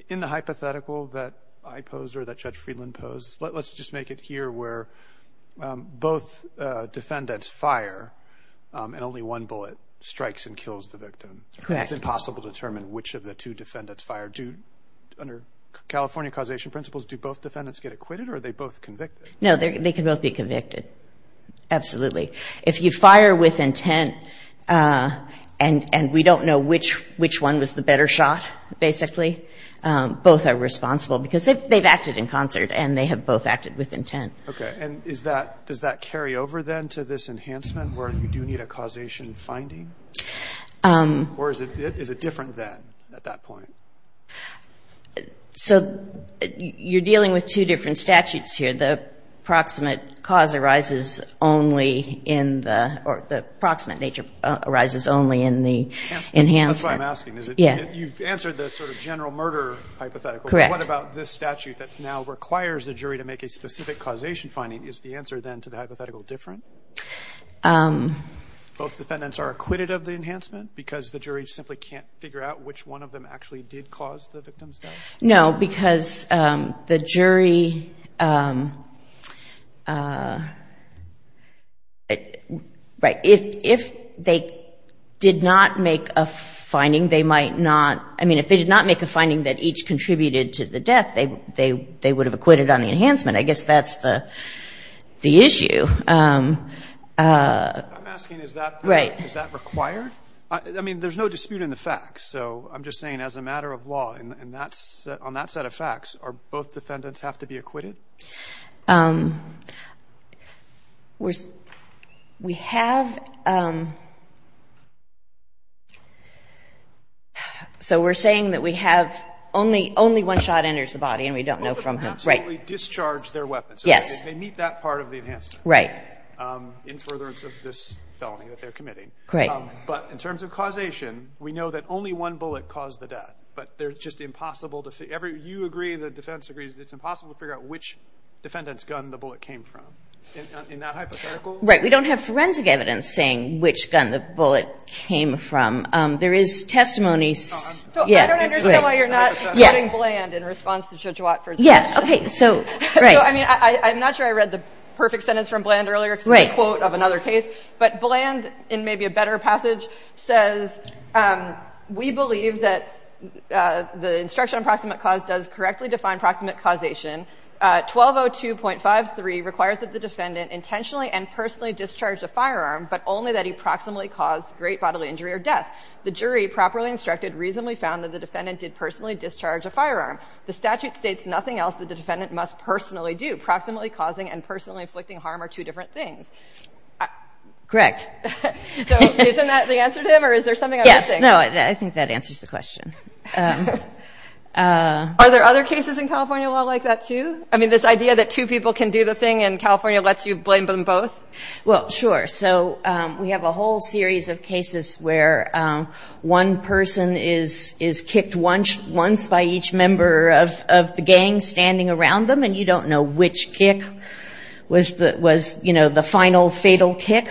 in the hypothetical that I posed or that Judge Friedland posed, let's just make it here where both defendants fire, and only one bullet strikes and kills the victim. It's impossible to determine which of the two defendants fired. Under California causation principles, do both defendants get acquitted, or are they both convicted? No, they can both be convicted, absolutely. If you fire with intent and we don't know which one was the better shot, basically, both are responsible, because they've acted in the same way. So, you're dealing with two different statutes here. The proximate cause arises only in the or the proximate nature arises only in the enhancement. That's what I'm asking. You've answered the sort of general murder hypothetical. What about this statute that now requires the jury to make a specific causation finding? Is the answer, then, to the hypothetical different? Both defendants are acquitted of the enhancement, because the jury simply can't figure out which one of them actually did cause the victim's death? No, because the jury if they did not make a finding, they might not I mean, if they did not make a finding that each contributed to the death, they would have acquitted on the enhancement. I guess that's the issue. I'm asking, is that required? I mean, there's no dispute in the facts. So, I'm just saying, as a matter of law, on that set of facts, both defendants have to be acquitted? We have So, we're saying that we have only one shot enters the body, and we don't know from whom. Right. But in terms of causation, we know that only one bullet caused the death. But they're just impossible to figure out. You agree, the defense agrees, it's impossible to figure out which defendant's gun the bullet came from, in that hypothetical? Right, we don't have forensic evidence saying which gun the bullet came from. There is testimony So, I don't understand why you're not quoting Bland in response to Chichewat for this. I'm not sure I read the perfect sentence from Bland earlier, because it's a quote of another case. But Bland, in maybe a better passage, says We believe that the instruction on proximate cause does correctly define proximate causation. 1202.53 requires that the defendant intentionally and personally discharge a firearm, but only that he proximately caused great bodily injury or death. The jury, properly instructed, reasonably found that the defendant did personally discharge a firearm. The statute states nothing else that the defendant must personally do. Proximately causing and personally inflicting harm are two different things. Correct. So, isn't that the answer to him, or is there something I'm missing? Yes, no, I think that answers the question. Are there other cases in California a lot like that, too? I mean, this idea that two people can do the thing and California lets you blame them both? Well, sure. So, we have a whole series of cases where one person is kicked once by each member of the gang standing around them, and you don't know which kick was the final fatal kick.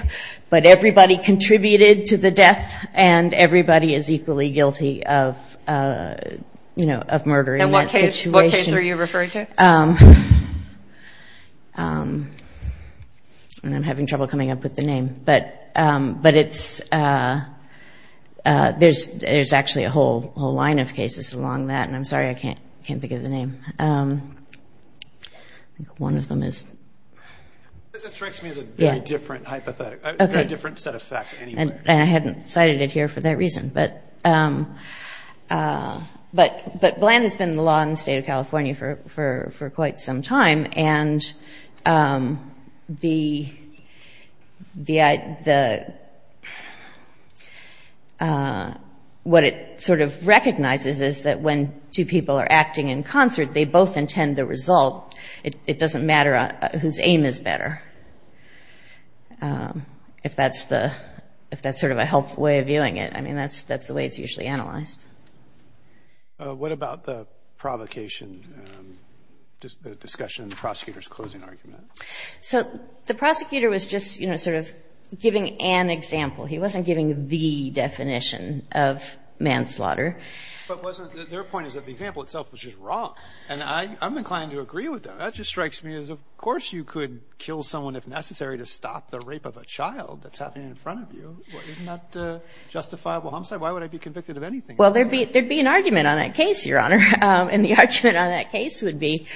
But everybody contributed to the death, and everybody is equally guilty of the death. And what case are you referring to? I'm having trouble coming up with the name. There's actually a whole line of cases along that, and I'm sorry I can't think of the name. That strikes me as a very different set of facts anyway. And I hadn't cited it here for that reason. But Bland has been in the law in the state of California for quite some time, and what it sort of recognizes is that when two people are acting in concert, they both intend the result. It doesn't matter whose aim is better. And that's sort of a helpful way of viewing it. I mean, that's the way it's usually analyzed. What about the provocation, the discussion of the prosecutor's closing argument? So, the prosecutor was just sort of giving an example. He wasn't giving the definition of manslaughter. But their point is that the example itself was just wrong, and I'm inclined to agree with them. That just strikes me as, of course you could kill someone if necessary to stop the rape of a child that's happening in front of you. Isn't that justifiable homicide? Why would I be convicted of anything? Well, there'd be an argument on that case, Your Honor. And the argument on that case would be,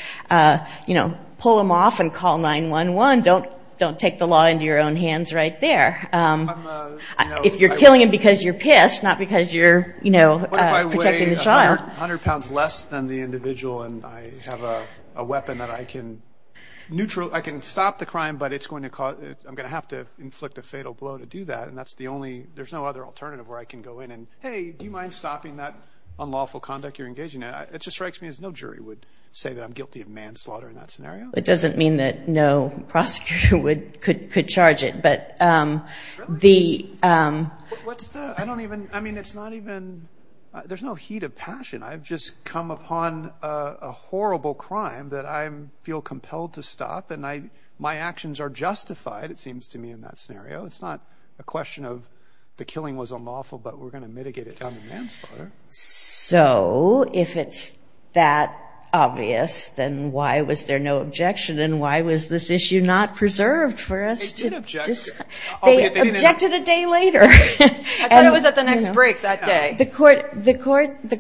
you know, pull him off and call 911. Don't take the law into your own hands right there. If you're killing him because you're pissed, not because you're, you know, protecting the child. I'm 100 pounds less than the individual, and I have a weapon that I can neutral, I can stop the crime, but I'm going to have to inflict a fatal blow to do that. And that's the only, there's no other alternative where I can go in and, hey, do you mind stopping that unlawful conduct you're engaging in? It just strikes me as no jury would say that I'm guilty of manslaughter in that scenario. It doesn't mean that no prosecutor could charge it. I don't even, I mean, it's not even, there's no heat of passion. I've just come upon a horrible crime that I feel compelled to stop. And my actions are justified, it seems to me, in that scenario. It's not a question of the killing was unlawful, but we're going to mitigate it down to manslaughter. So if it's that obvious, then why was there no objection? And why was this issue not preserved for us? They objected a day later. I thought it was at the next break that day. The court, the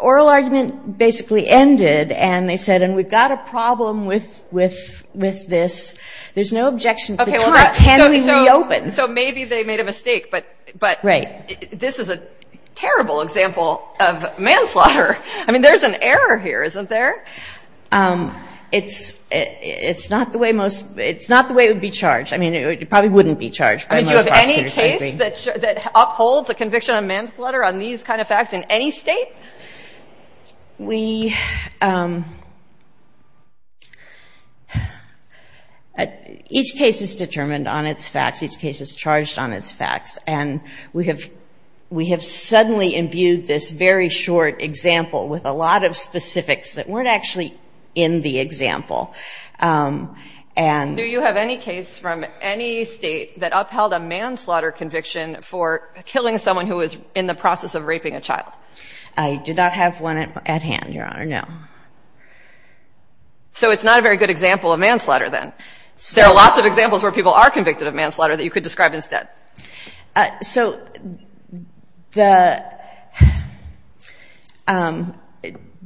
oral argument basically ended, and they said, and we've got a problem with this. There's no objection. So maybe they made a mistake. But this is a terrible example of manslaughter. I mean, there's an error here, isn't there? It's not the way it would be charged. I mean, it probably wouldn't be charged by most prosecutors. Do you have any case that upholds a conviction of manslaughter on these kind of facts in any state? Each case is determined on its facts. Each case is charged on its facts. And we have suddenly imbued this very short example with a lot of specifics that weren't actually in the example. Do you have any case from any state that upheld a manslaughter conviction for killing someone who was in the process of raping a child? I do not have one at hand, Your Honor, no. So it's not a very good example of manslaughter then. There are lots of examples where people are convicted of manslaughter that you could describe instead. So the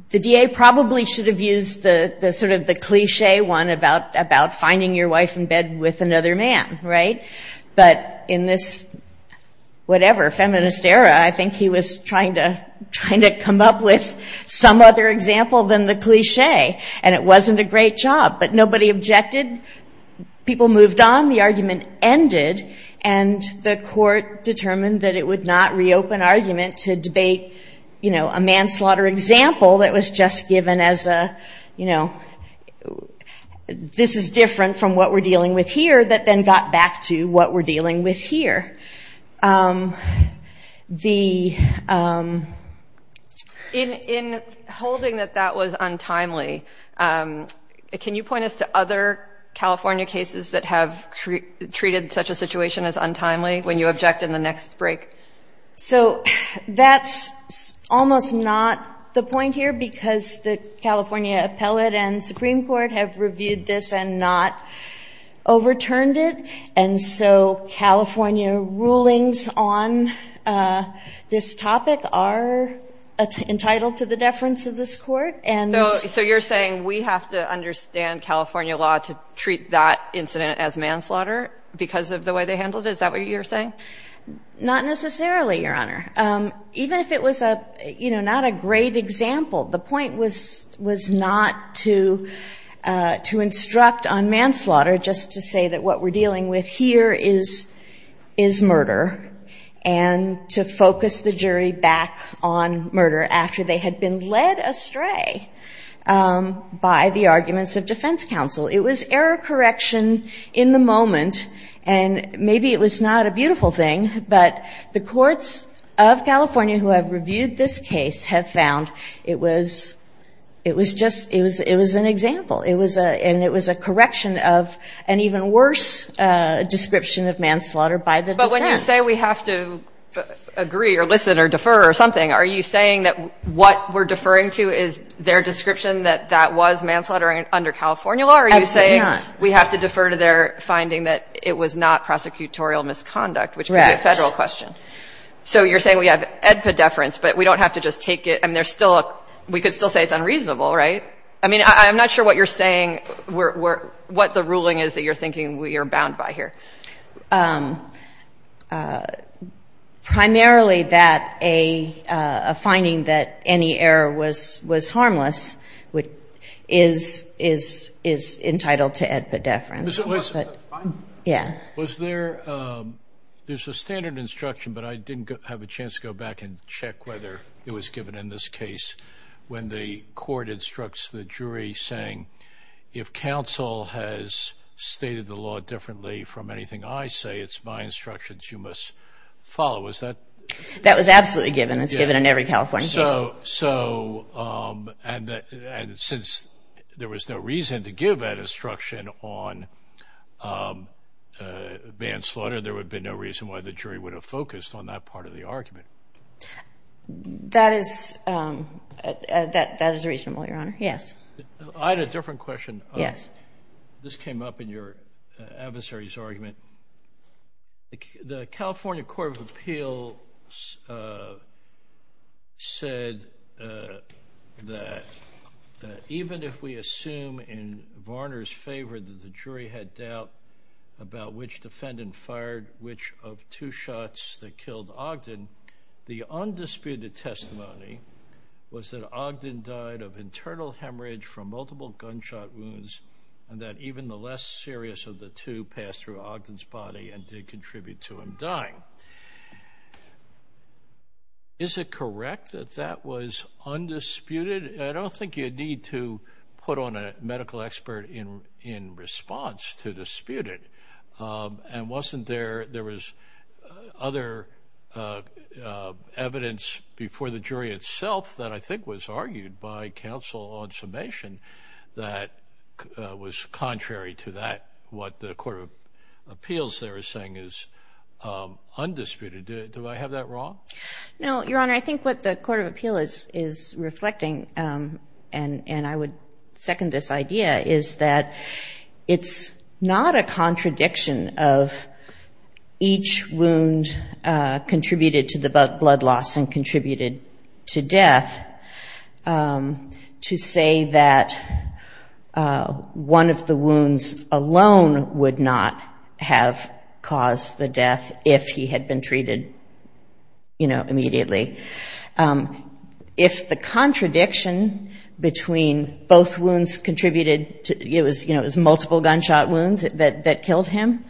DA probably should have used the sort of the cliche one about finding your wife in bed with another man, right? But in this whatever, feminist era, I think he was trying to come up with some other example than the cliche. And it wasn't a great job. But nobody objected, people moved on, the argument ended, and the court determined that it would not reopen argument to debate a manslaughter example that was just given as a, you know, this is different from what we're dealing with here, that then got back to what we're dealing with here. The... In holding that that was untimely, can you point us to other California cases that have treated such a situation as untimely when you object in the next break? So that's almost not the point here because the California appellate and Supreme Court have reviewed this and not overturned it. And so California rulings on this topic are entitled to the deference of this court and... So you're saying we have to understand California law to treat that incident as manslaughter because of the way they handled it, is that what you're saying? Not necessarily, Your Honor. Even if it was a, you know, not a great example, the point was not to instruct on manslaughter, just to say that what we're dealing with here is murder, and to focus the jury back on murder after they had been led astray by the arguments of defense counsel. It was error correction in the moment, and maybe it was not a beautiful thing, but the courts of California who have reviewed this case have found it was just, it was an example. And it was a correction of an even worse description of manslaughter by the defense. But when you say we have to agree or listen or defer or something, are you saying that what we're deferring to is their description that that was manslaughter under California law, or are you saying we have to defer to their finding that it was not pedeference, but we don't have to just take it, and there's still a, we could still say it's unreasonable, right? I mean, I'm not sure what you're saying, what the ruling is that you're thinking we are bound by here. Primarily that a finding that any error was harmless is entitled to ad pedeference. Yeah. Was there, there's a standard instruction, but I didn't have a chance to go back and check whether it was given in this case when the court instructs the jury saying, if counsel has stated the law differently from anything I say, it's my instructions you must follow. Is that? That was absolutely given. It's given in every California case. And since there was no reason to give that instruction on manslaughter, there would be no reason why the jury would have focused on that part of the argument. That is reasonable, Your Honor. Yes. I had a different question. This came up in your adversary's argument. The California Court of Appeal said that, even if we assume in Varner's favor that the jury had doubt about which defendant fired which of two shots that killed Ogden, the undisputed testimony was that Ogden died of internal hemorrhage from multiple gunshot wounds and that even the less serious of the two passed through Ogden's body and did contribute to him dying. Is it correct that that was undisputed? I don't think you need to put on a medical expert in response to dispute it. And wasn't there, there was other evidence before the jury itself that I think was contrary to that, what the Court of Appeals there is saying is undisputed. Do I have that wrong? No, Your Honor. I think what the Court of Appeal is reflecting, and I would second this idea, is that it's not a contradiction of each wound contributed to the blood loss and contributed to death. To say that one of the wounds alone would not have caused the death if he had been treated immediately. If the contradiction between both wounds contributed, it was multiple gunshot wounds that killed him,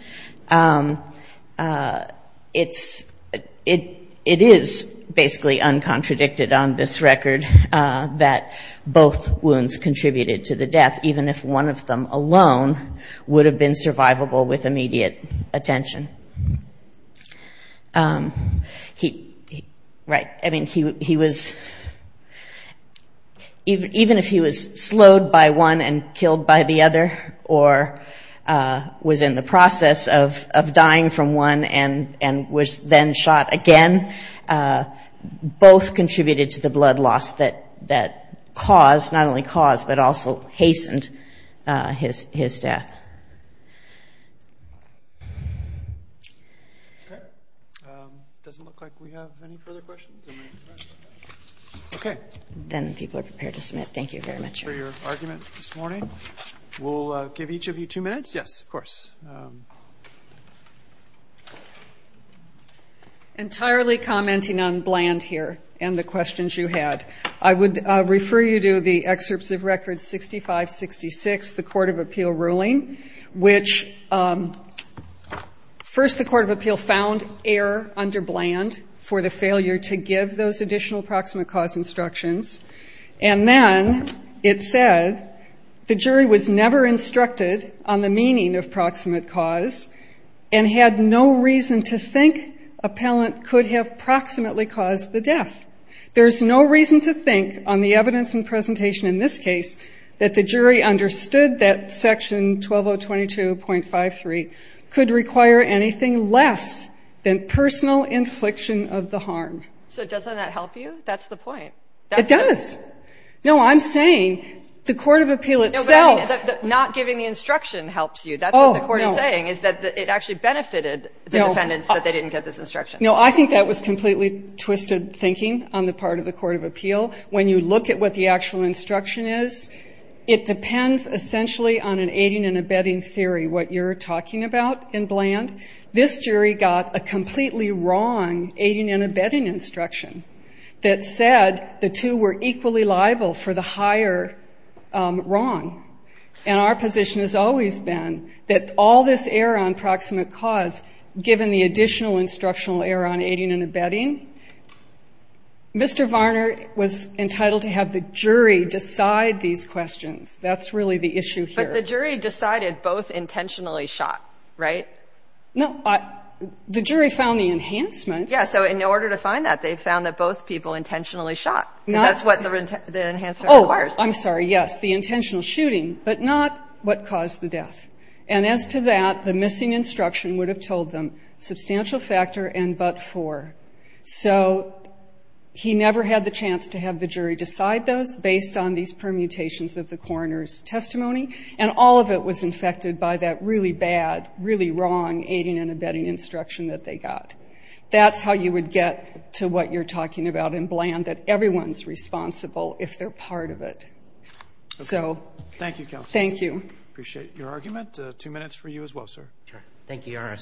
it is basically uncontradicted on this record. That both wounds contributed to the death, even if one of them alone would have been survivable with immediate attention. Even if he was slowed by one and killed by the other, or was in the process of dying from one and was then shot again, both contributed to the blood loss and caused, not only caused, but also hastened his death. Okay. Doesn't look like we have any further questions. Okay. Then people are prepared to submit. Thank you very much. Thank you for your argument this morning. We'll give each of you two minutes. Entirely commenting on Bland here and the questions you had. I would refer you to the excerpts of Record 6566, the Court of Appeal ruling, which first the Court of Appeal found error under Bland for the failure to give those additional proximate cause instructions. And then it said the jury was never instructed on the meaning of proximate cause and had no reason to think appellant could have proximately caused the death. There's no reason to think on the evidence and presentation in this case that the jury understood that Section 12022.53 could require anything less than personal infliction of the harm. So doesn't that help you? That's the point. It does. No, I'm saying the Court of Appeal itself. Not giving the instruction helps you. That's what the Court is saying, is that it actually benefited the defendants that they didn't get this instruction. No, I think that was completely twisted thinking on the part of the Court of Appeal. When you look at what the actual instruction is, it depends essentially on an aiding and abetting theory, what you're talking about in Bland. This jury got a completely wrong aiding and abetting instruction that said the two were equally liable for the higher wrong. And our position has always been that all this error on proximate cause, given the additional instructional error on aiding and abetting, Mr. Varner was entitled to have the jury decide these questions. That's really the issue here. But the jury decided both intentionally shot, right? No. The jury found the enhancement. Yeah. So in order to find that, they found that both people intentionally shot. That's what the enhancement requires. Oh, I'm sorry. Yes, the intentional shooting, but not what caused the death. And as to that, the missing instruction would have told them substantial factor and but for. So he never had the chance to have the jury decide those based on these permutations of the coroner's testimony, and all of it was infected by that really bad, really wrong aiding and abetting instruction that they got. That's how you would get to what you're talking about in Bland, that everyone's responsible if they're part of it. So thank you. Thank you. We appreciate your argument. Two minutes for you as well, sir. Thank you, Your Honor.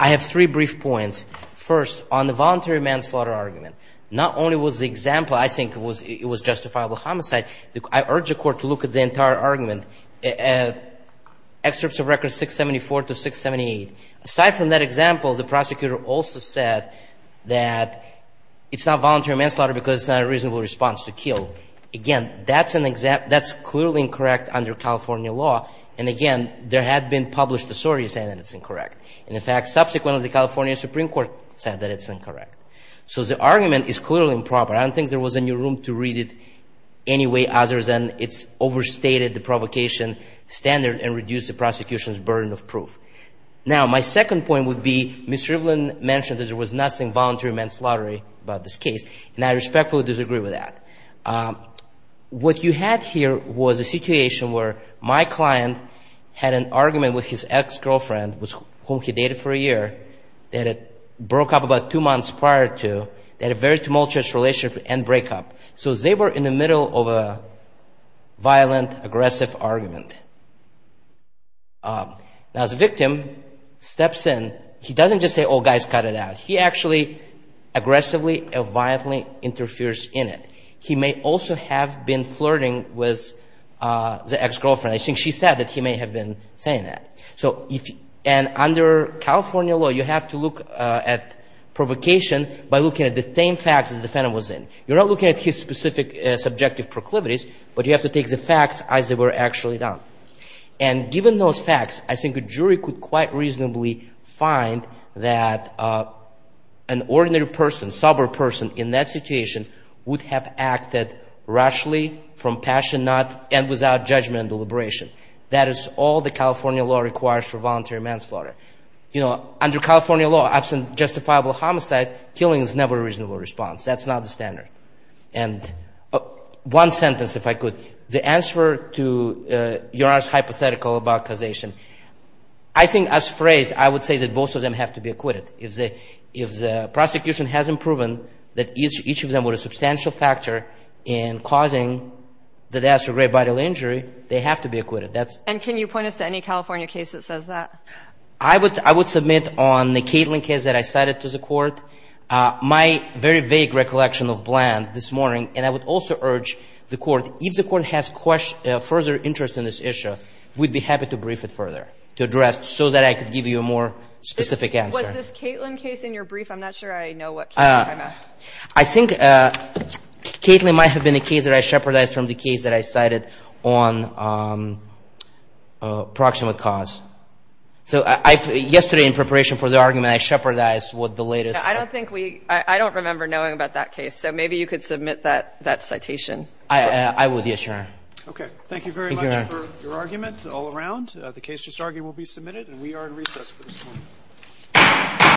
I have three brief points. First, on the voluntary manslaughter argument, not only was the example, I think it was justifiable homicide. I urge the Court to look at the entire argument, excerpts of records 674 to 678. Aside from that example, the prosecutor also said that it's not voluntary manslaughter because it's not a reasonable response to kill. Again, that's clearly incorrect under California law. And, again, there had been published a story saying that it's incorrect. And, in fact, subsequently the California Supreme Court said that it's incorrect. So the argument is clearly improper. I don't think there was any room to read it any way other than it's overstated the provocation standard and reduced the prosecution's burden of proof. Now, my second point would be Ms. Rivlin mentioned that there was nothing voluntary manslaughter about this case, and I respectfully disagree with that. What you had here was a situation where my client had an argument with his ex-girlfriend, with whom he dated for a year, that had broke up about two months prior to, they had a very tumultuous relationship and breakup. So they were in the middle of a violent, aggressive argument. Now, as the victim steps in, he doesn't just say, oh, guys, cut it out. He actually aggressively and violently interferes in it. He may also have been flirting with the ex-girlfriend. I think she said that he may have been saying that. And under California law, you have to look at provocation by looking at the same facts that the defendant was in. You're not looking at his specific subjective proclivities, but you have to take the facts as they were actually done. And given those facts, I think a jury could quite reasonably find that an ordinary person, a sober person in that situation, would have acted rashly, from passion, and without judgment and deliberation. That is all the California law requires for voluntary manslaughter. You know, under California law, absent justifiable homicide, killing is never a reasonable response. That's not the standard. And one sentence, if I could. The answer to your hypothetical about causation, I think as phrased, I would say that both of them have to be acquitted. If the prosecution hasn't proven that each of them were a substantial factor in causing the death or grave bodily injury, they have to be acquitted. And can you point us to any California case that says that? I would submit on the Kaitlin case that I cited to the Court. My very vague recollection of Bland this morning, and I would also urge the Court, if the Court has further interest in this issue, we'd be happy to brief it further, to address, so that I could give you a more specific answer. Was this Kaitlin case in your brief? I'm not sure I know what case you're talking about. I think Kaitlin might have been a case that I shepherded from the case that I cited on proximate cause. So yesterday, in preparation for the argument, I shepherded what the latest – I don't think we – I don't remember knowing about that case. So maybe you could submit that citation. I would, yes, Your Honor. Okay. Thank you very much for your argument all around. The case just argued will be submitted, and we are in recess for this point.